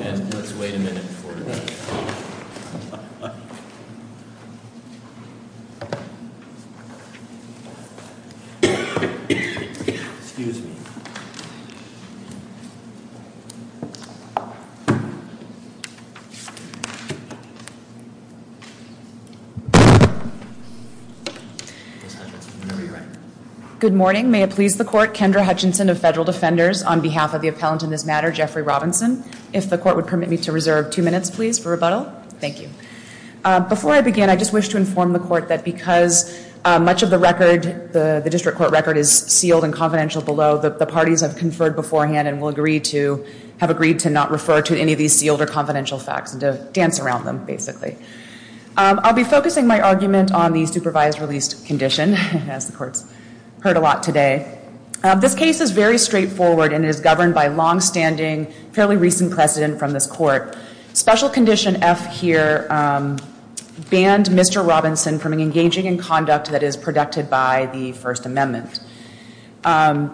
and let's wait a minute for the call. Before I begin, I just wish to inform the court that because much of the record, the district court record is sealed and confidential below, the parties have conferred beforehand and will agree to have agreed to not refer to any of these sealed or confidential facts and to dance around them basically. I'll be focusing my argument on the supervised released condition, as the court's heard a lot today. This case is very straightforward and is governed by longstanding, fairly recent precedent from this court. Special condition F here banned Mr. Robinson from engaging in conduct that is protected by the First Amendment. As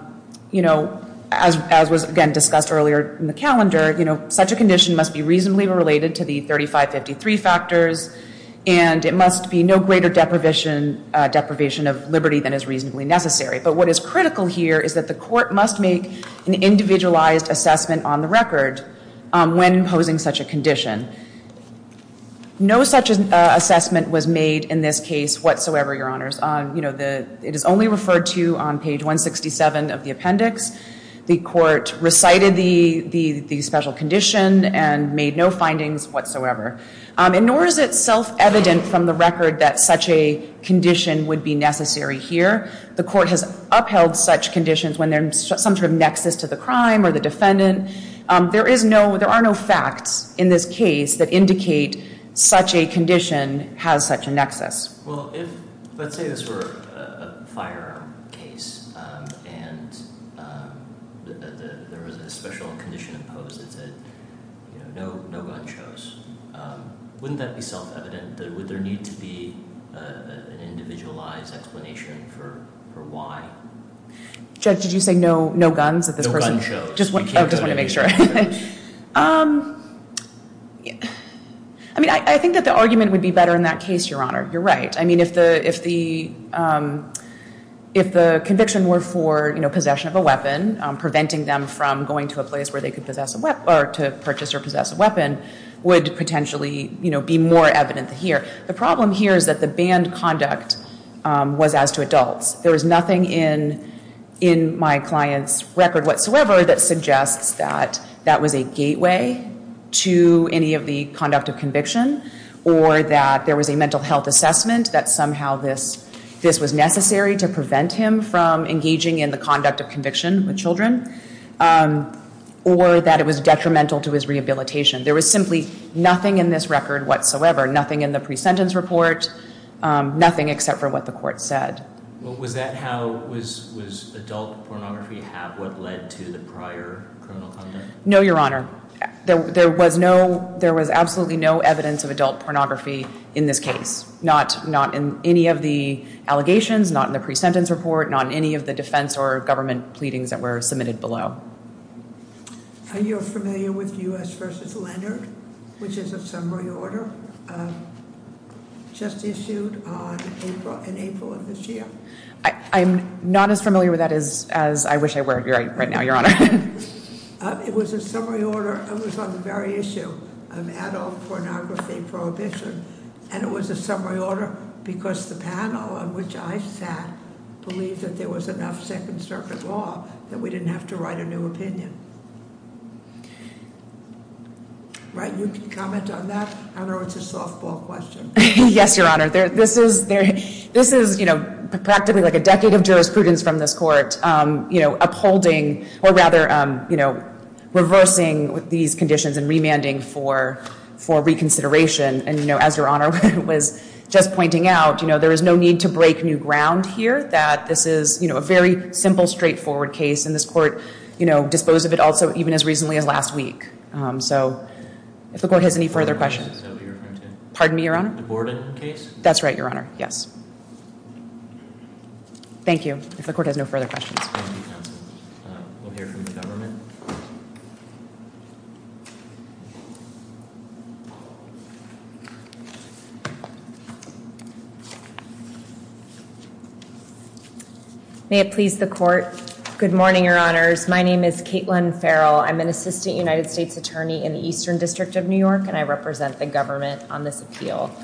was again discussed earlier in the calendar, such a condition must be reasonably related to the 3553 factors and it must be no greater deprivation of liberty than is reasonably necessary. But what is critical here is that the court must make an individualized assessment on the record when imposing such a condition. No such assessment was made in this case whatsoever, Your Honors. It is only referred to on page 167 of the appendix. The court recited the special condition and made no findings whatsoever. And nor is it self-evident from the record that such a condition would be necessary here. The court has upheld such conditions when there's some sort of nexus to the crime or the defendant. There are no facts in this case that indicate such a condition has such a nexus. Well, let's say this were a firearm case and there was a special condition imposed that said no gun shows. Wouldn't that be self-evident? Would there need to be an individualized explanation for why? Judge, did you say no guns? No gun shows. Oh, just wanted to make sure. I mean, I think that the argument would be better in that case, Your Honor. You're right. I mean, if the conviction were for possession of a weapon, preventing them from going to a place where they could purchase or possess a weapon would potentially be more evident here. The problem here is that the banned conduct was as to adults. There is nothing in my client's record whatsoever that suggests that that was a gateway to any of the conduct of conviction or that there was a mental health assessment that somehow this was necessary to prevent him from engaging in the conduct of conviction with children or that it was detrimental to his rehabilitation. There was simply nothing in this record whatsoever, nothing in the pre-sentence report, nothing except for what the court said. Was that how, was adult pornography have what led to the prior criminal conduct? No, Your Honor. There was absolutely no evidence of adult pornography in this case, not in any of the allegations, not in the pre-sentence report, not in any of the defense or government pleadings that were submitted below. Are you familiar with U.S. versus Leonard, which is a summary order just issued in April of this year? I'm not as familiar with that as I wish I were right now, Your Honor. It was a summary order. It was on the very issue of adult pornography prohibition, and it was a summary order because the panel on which I sat believed that there was enough Second Circuit law that we didn't have to write a new opinion. Right, you can comment on that. I know it's a softball question. Yes, Your Honor. This is, you know, practically like a decade of jurisprudence from this court, you know, upholding or rather, you know, reversing these conditions and remanding for reconsideration. And, you know, as Your Honor was just pointing out, you know, there is no need to break new ground here that this is, you know, a very simple, straightforward case, and this court, you know, disposed of it also even as recently as last week. So if the court has any further questions. Pardon me, Your Honor? The Borden case? That's right, Your Honor. Yes. Thank you. If the court has no further questions. Thank you, counsel. We'll hear from the government. May it please the court. Good morning, Your Honors. My name is Caitlin Farrell. I'm an assistant United States attorney in the Eastern District of New York, and I represent the government on this appeal.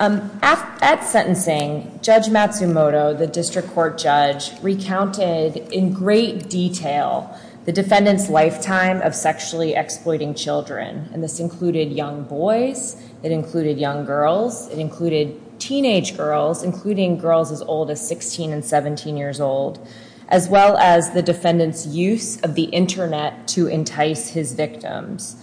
At sentencing, Judge Matsumoto, the district court judge, recounted in great detail the defendant's lifetime of sexually exploiting children. And this included young boys, it included young girls, it included teenage girls, including girls as old as 16 and 17 years old, as well as the defendant's use of the internet to entice his victims.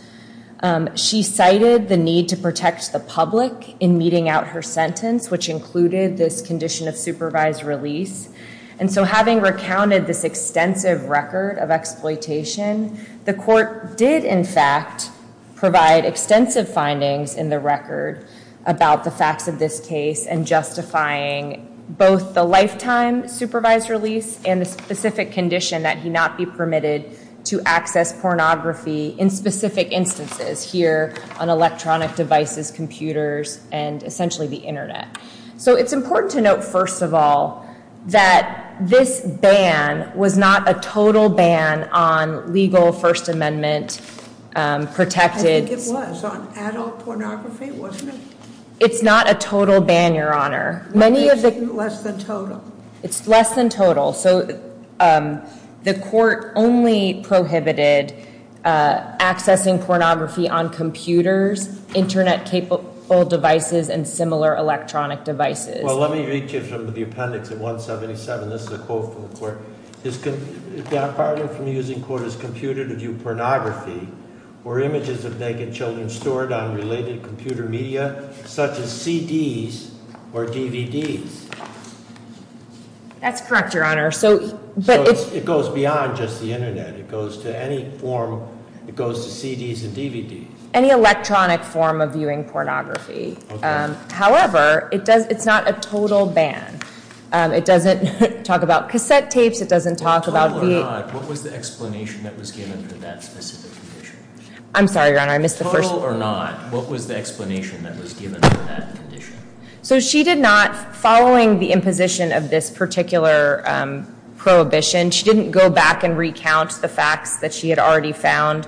She cited the need to protect the public in meeting out her sentence, which included this condition of supervised release. And so having recounted this extensive record of exploitation, the court did, in fact, provide extensive findings in the record about the facts of this case and justifying both the lifetime supervised release and the specific condition that he not be permitted to access pornography in specific instances, here on electronic devices, computers, and essentially the internet. So it's important to note, first of all, that this ban was not a total ban on legal First Amendment- I think it was on adult pornography, wasn't it? It's not a total ban, Your Honor. Why is it less than total? It's less than total. So the court only prohibited accessing pornography on computers, internet-capable devices, and similar electronic devices. Well, let me read to you from the appendix at 177. This is a quote from the court. Is it far from using court as computer to view pornography or images of naked children stored on related computer media, such as CDs or DVDs? That's correct, Your Honor. So it goes beyond just the internet. It goes to any form. It goes to CDs and DVDs. Any electronic form of viewing pornography. However, it's not a total ban. It doesn't talk about cassette tapes. It doesn't talk about- Total or not, what was the explanation that was given for that specific condition? I'm sorry, Your Honor. Total or not, what was the explanation that was given for that condition? So she did not, following the imposition of this particular prohibition, she didn't go back and recount the facts that she had already found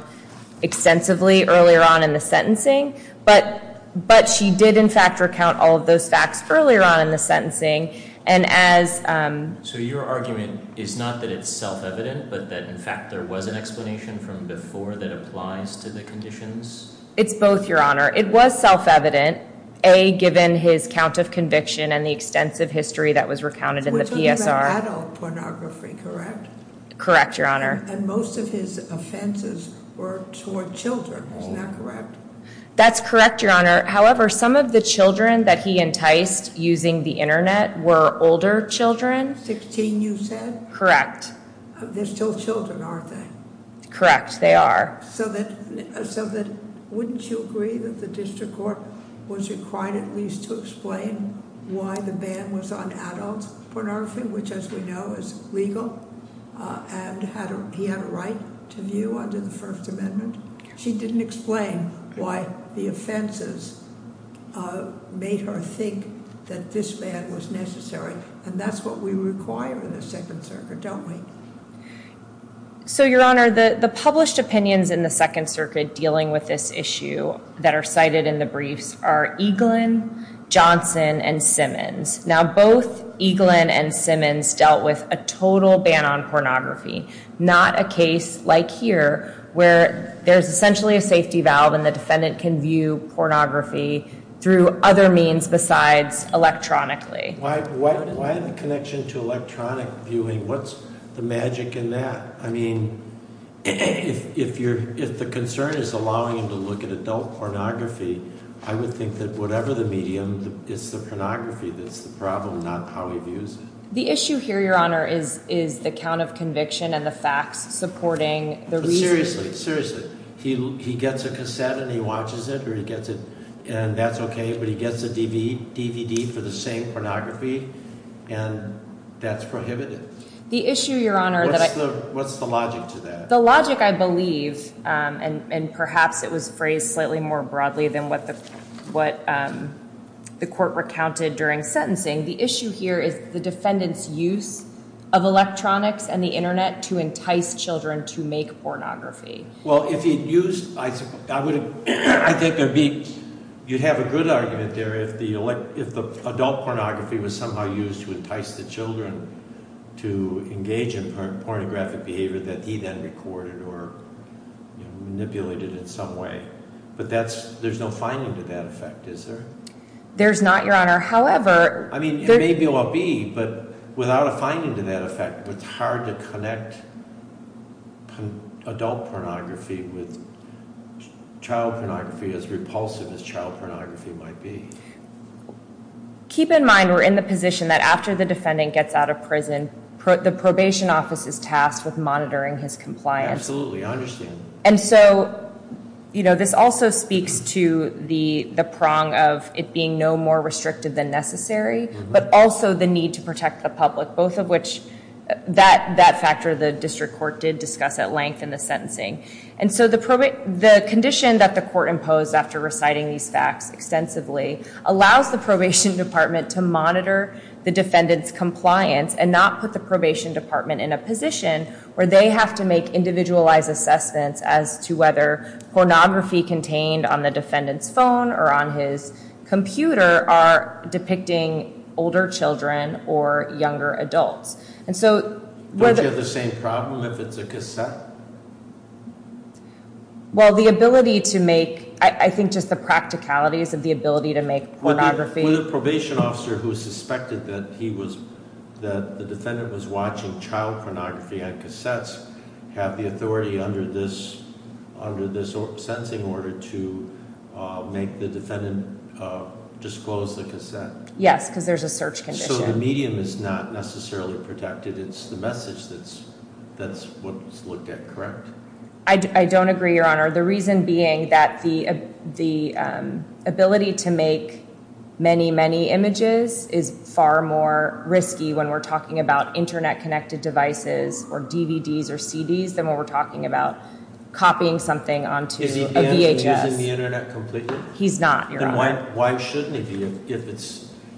extensively earlier on in the sentencing. But she did, in fact, recount all of those facts earlier on in the sentencing. And as- So your argument is not that it's self-evident, but that, in fact, there was an explanation from before that applies to the conditions? It's both, Your Honor. It was self-evident, A, given his count of conviction and the extensive history that was recounted in the PSR. We're talking about adult pornography, correct? Correct, Your Honor. And most of his offenses were toward children. Isn't that correct? That's correct, Your Honor. However, some of the children that he enticed using the internet were older children. 16, you said? Correct. They're still children, aren't they? Correct. They are. So wouldn't you agree that the district court was required at least to explain why the ban was on adult pornography, which, as we know, is legal and he had a right to view under the First Amendment? She didn't explain why the offenses made her think that this ban was necessary, and that's what we require in the Second Circuit, don't we? So, Your Honor, the published opinions in the Second Circuit dealing with this issue that are cited in the briefs are Eaglin, Johnson, and Simmons. Now, both Eaglin and Simmons dealt with a total ban on pornography, not a case like here where there's essentially a safety valve and the defendant can view pornography through other means besides electronically. Why the connection to electronic viewing? What's the magic in that? I mean, if the concern is allowing him to look at adult pornography, I would think that whatever the medium, it's the pornography that's the problem, not how he views it. The issue here, Your Honor, is the count of conviction and the facts supporting the reasoning. Seriously, seriously. He gets a cassette and he watches it or he gets it and that's okay, but he gets a DVD for the same pornography and that's prohibited. The issue, Your Honor, that I... What's the logic to that? Well, if he'd used... I think you'd have a good argument there if the adult pornography was somehow used to entice the children to engage in pornographic behavior that he then recorded or manipulated in some way. But there's no finding to that effect, is there? There's not, Your Honor. However... I mean, maybe there will be, but without a finding to that effect, it's hard to connect adult pornography with child pornography as repulsive as child pornography might be. Keep in mind we're in the position that after the defendant gets out of prison, the probation office is tasked with monitoring his compliance. Absolutely, I understand. And so, you know, this also speaks to the prong of it being no more restrictive than necessary, but also the need to protect the public, both of which, that factor the district court did discuss at length in the sentencing. And so the condition that the court imposed after reciting these facts extensively allows the probation department to monitor the defendant's compliance and not put the probation department in a position where they have to make individualized assessments as to whether pornography contained on the defendant's phone or on his computer are depicting older children or younger adults. Don't you have the same problem if it's a cassette? Well, the ability to make... I think just the practicalities of the ability to make pornography... Would a probation officer who suspected that the defendant was watching child pornography on cassettes have the authority under this sentencing order to make the defendant disclose the cassette? Yes, because there's a search condition. So the medium is not necessarily protected. It's the message that's what's looked at, correct? I don't agree, Your Honor. The reason being that the ability to make many, many images is far more risky when we're talking about internet-connected devices or DVDs or CDs than when we're talking about copying something onto a VHS. Is he banned from using the internet completely? He's not, Your Honor. Then why shouldn't he be?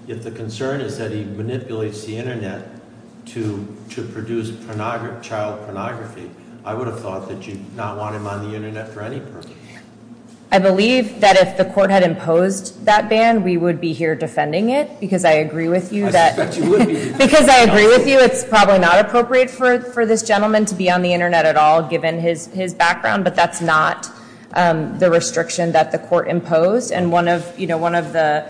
If the concern is that he manipulates the internet to produce child pornography, I would have thought that you'd not want him on the internet for any purpose. I believe that if the court had imposed that ban, we would be here defending it, because I agree with you that- I don't want this gentleman to be on the internet at all, given his background, but that's not the restriction that the court imposed. And one of the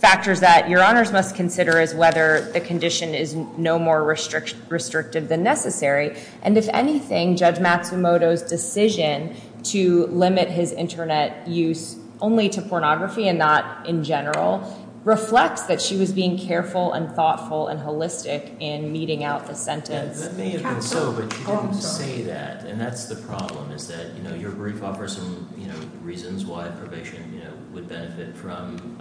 factors that Your Honors must consider is whether the condition is no more restrictive than necessary. And if anything, Judge Matsumoto's decision to limit his internet use only to pornography and not in general reflects that she was being careful and thoughtful and holistic in meting out the sentence. That may have been so, but you didn't say that, and that's the problem, is that your brief offers some reasons why probation would benefit from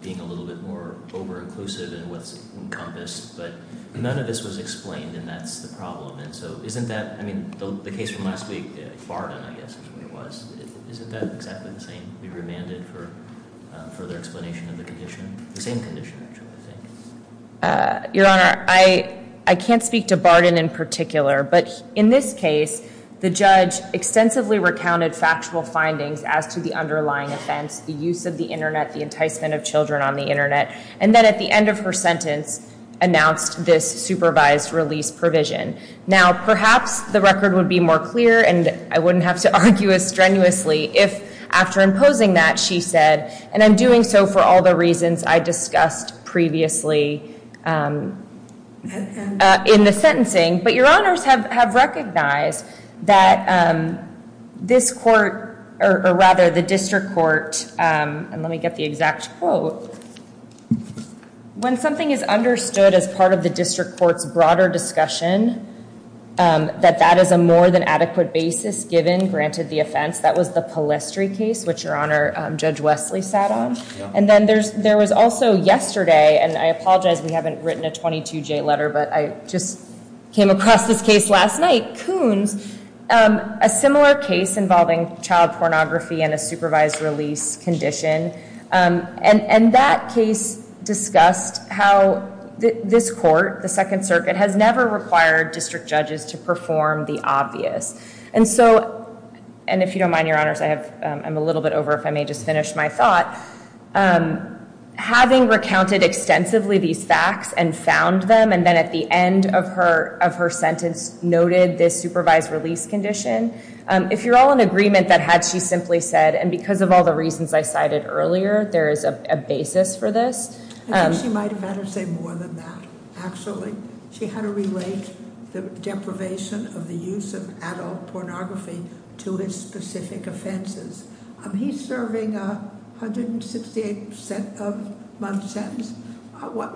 being a little bit more over-inclusive in what's encompassed. But none of this was explained, and that's the problem. And so isn't that- I mean, the case from last week, Barden, I guess, is what it was. Isn't that exactly the same? Be remanded for further explanation of the condition? The same condition, actually, I think. Your Honor, I can't speak to Barden in particular, but in this case, the judge extensively recounted factual findings as to the underlying offense, the use of the internet, the enticement of children on the internet, and then at the end of her sentence announced this supervised release provision. Now, perhaps the record would be more clear, and I wouldn't have to argue as strenuously if, after imposing that, she said, and I'm doing so for all the reasons I discussed previously in the sentencing, but your honors have recognized that this court, or rather, the district court, and let me get the exact quote, when something is understood as part of the district court's broader discussion, that that is a more than adequate basis given, granted the offense. That was the Palestry case, which your honor, Judge Wesley sat on. And then there was also yesterday, and I apologize we haven't written a 22J letter, but I just came across this case last night, Coons, a similar case involving child pornography and a supervised release condition. And that case discussed how this court, the Second Circuit, has never required district judges to perform the obvious. And so, and if you don't mind, your honors, I'm a little bit over, if I may just finish my thought. Having recounted extensively these facts and found them, and then at the end of her sentence noted this supervised release condition. If you're all in agreement that had she simply said, and because of all the reasons I cited earlier, there is a basis for this. I think she might have had her say more than that, actually. She had to relate the deprivation of the use of adult pornography to his specific offenses. He's serving a 168 month sentence.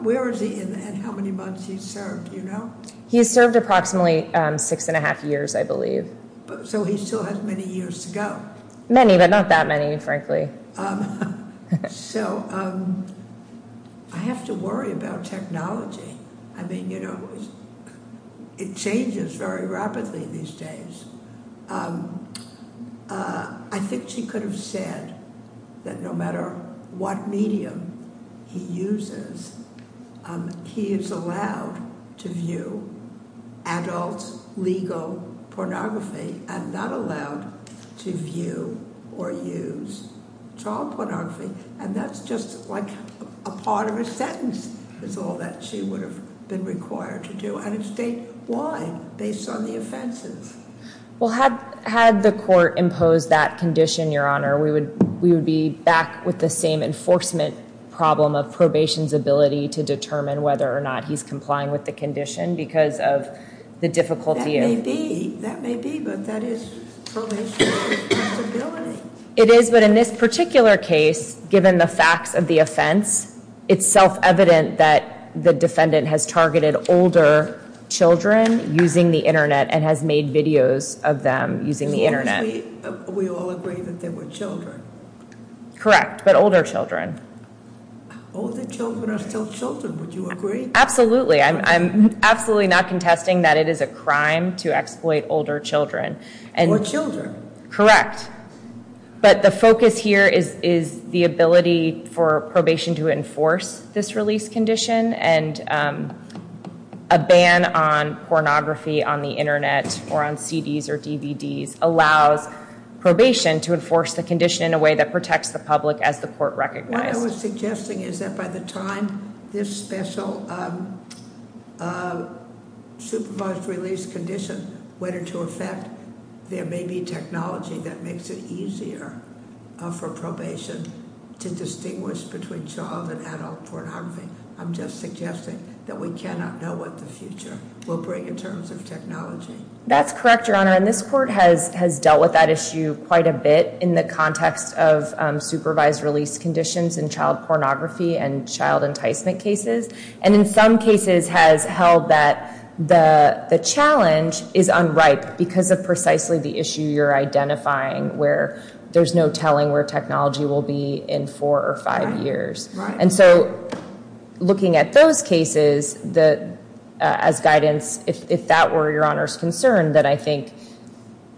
Where is he and how many months he's served, do you know? He's served approximately six and a half years, I believe. So he still has many years to go. Many, but not that many, frankly. So I have to worry about technology. I mean, you know, it changes very rapidly these days. I think she could have said that no matter what medium he uses, he is allowed to view adult legal pornography and not allowed to view or use child pornography. And that's just like a part of a sentence is all that she would have been required to do. And it's statewide based on the offenses. Well, had the court imposed that condition, Your Honor, we would be back with the same enforcement problem of probation's ability to determine whether or not he's complying with the condition because of the difficulty. That may be, but that is probation's responsibility. It is, but in this particular case, given the facts of the offense, it's self-evident that the defendant has targeted older children using the Internet and has made videos of them using the Internet. We all agree that they were children. Correct, but older children. Older children are still children, would you agree? Absolutely. I'm absolutely not contesting that it is a crime to exploit older children. Or children. Correct. But the focus here is the ability for probation to enforce this release condition and a ban on pornography on the Internet or on CDs or DVDs allows probation to enforce the condition in a way that protects the public as the court recognized. What I was suggesting is that by the time this special supervised release condition went into effect, there may be technology that makes it easier for probation to distinguish between child and adult pornography. I'm just suggesting that we cannot know what the future will bring in terms of technology. That's correct, Your Honor, and this court has dealt with that issue quite a bit in the context of supervised release conditions in child pornography and child enticement cases. And in some cases has held that the challenge is unripe because of precisely the issue you're identifying where there's no telling where technology will be in four or five years. Right. And so looking at those cases as guidance, if that were Your Honor's concern, that I think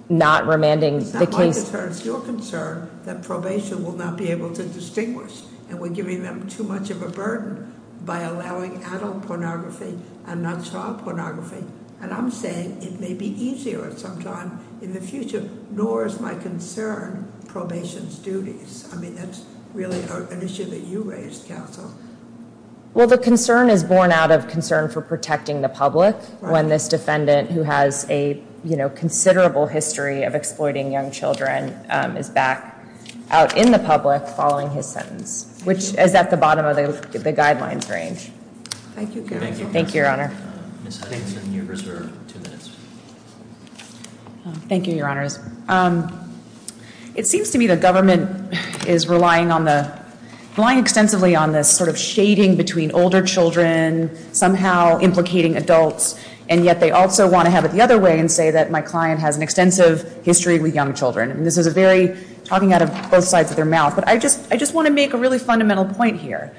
not remanding the case- It's not my concern, it's your concern that probation will not be able to distinguish. And we're giving them too much of a burden by allowing adult pornography and not child pornography. And I'm saying it may be easier at some time in the future. Nor is my concern probation's duties. I mean, that's really an issue that you raised, Counsel. Well, the concern is born out of concern for protecting the public when this defendant who has a considerable history of exploiting young children is back out in the public following his sentence. Which is at the bottom of the guidelines range. Thank you, Counsel. Thank you, Your Honor. Ms. Hudson, you're reserved two minutes. Thank you, Your Honors. It seems to me the government is relying extensively on this sort of shading between older children, somehow implicating adults, and yet they also want to have it the other way and say that my client has an extensive history with young children. And this is talking out of both sides of their mouth. But I just want to make a really fundamental point here.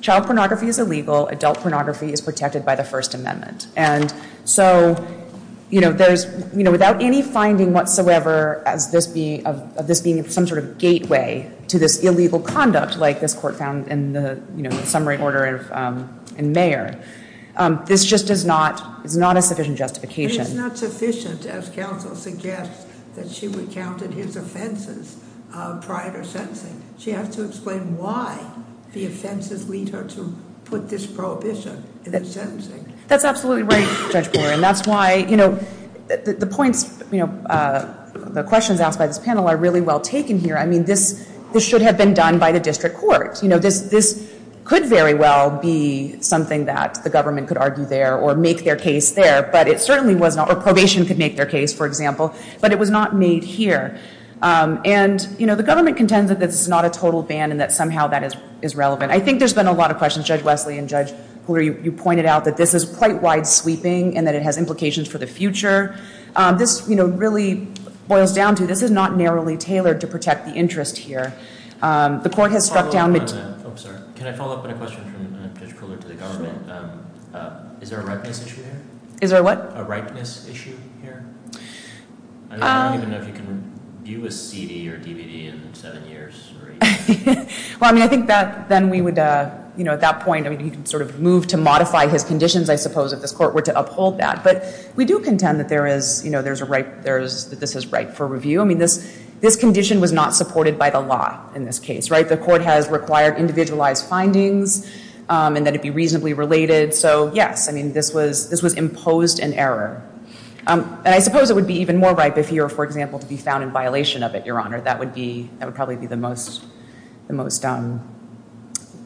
Child pornography is illegal. Adult pornography is protected by the First Amendment. And so, you know, without any finding whatsoever of this being some sort of gateway to this illegal conduct like this court found in the summary order in Mayer, this just is not a sufficient justification. It is not sufficient, as Counsel suggests, that she recounted his offenses prior to sentencing. She has to explain why the offenses lead her to put this prohibition in the sentencing. That's absolutely right, Judge Brewer. And that's why, you know, the points, you know, the questions asked by this panel are really well taken here. I mean, this should have been done by the district court. You know, this could very well be something that the government could argue there or make their case there, but it certainly was not. Or probation could make their case, for example. But it was not made here. And, you know, the government contends that this is not a total ban and that somehow that is relevant. I think there's been a lot of questions. Judge Wesley and Judge Cooler, you pointed out that this is quite wide-sweeping and that it has implications for the future. This, you know, really boils down to this is not narrowly tailored to protect the interest here. The court has struck down the- Can I follow up on a question from Judge Cooler to the government? Is there a ripeness issue here? Is there a what? A ripeness issue here? I don't even know if you can view a CD or DVD in seven years. Well, I mean, I think that then we would, you know, at that point, I mean, he could sort of move to modify his conditions, I suppose, if this court were to uphold that. But we do contend that there is, you know, there's a ripe- that this is ripe for review. I mean, this condition was not supported by the law in this case, right? The court has required individualized findings and that it be reasonably related. So, yes, I mean, this was imposed in error. And I suppose it would be even more ripe if he were, for example, to be found in violation of it, Your Honor. That would probably be the most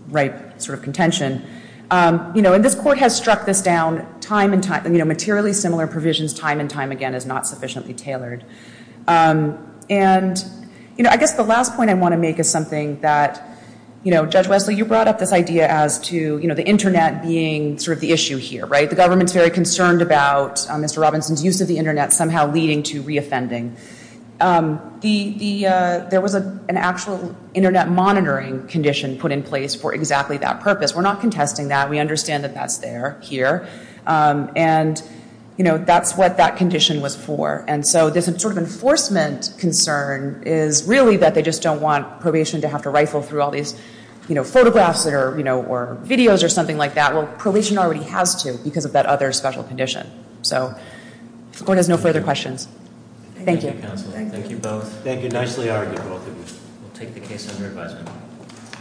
ripe sort of contention. You know, and this court has struck this down time and time- you know, materially similar provisions time and time again is not sufficiently tailored. And, you know, I guess the last point I want to make is something that, you know, Judge Wesley, you brought up this idea as to, you know, the Internet being sort of the issue here, right? The government's very concerned about Mr. Robinson's use of the Internet somehow leading to reoffending. There was an actual Internet monitoring condition put in place for exactly that purpose. We're not contesting that. We understand that that's there, here. And, you know, that's what that condition was for. And so this sort of enforcement concern is really that they just don't want probation to have to rifle through all these, you know, photographs or, you know, or videos or something like that. Well, probation already has to because of that other special condition. So the court has no further questions. Thank you. Thank you, counsel. Thank you both. Thank you. Nicely argued, both of you. We'll take the case under advisement.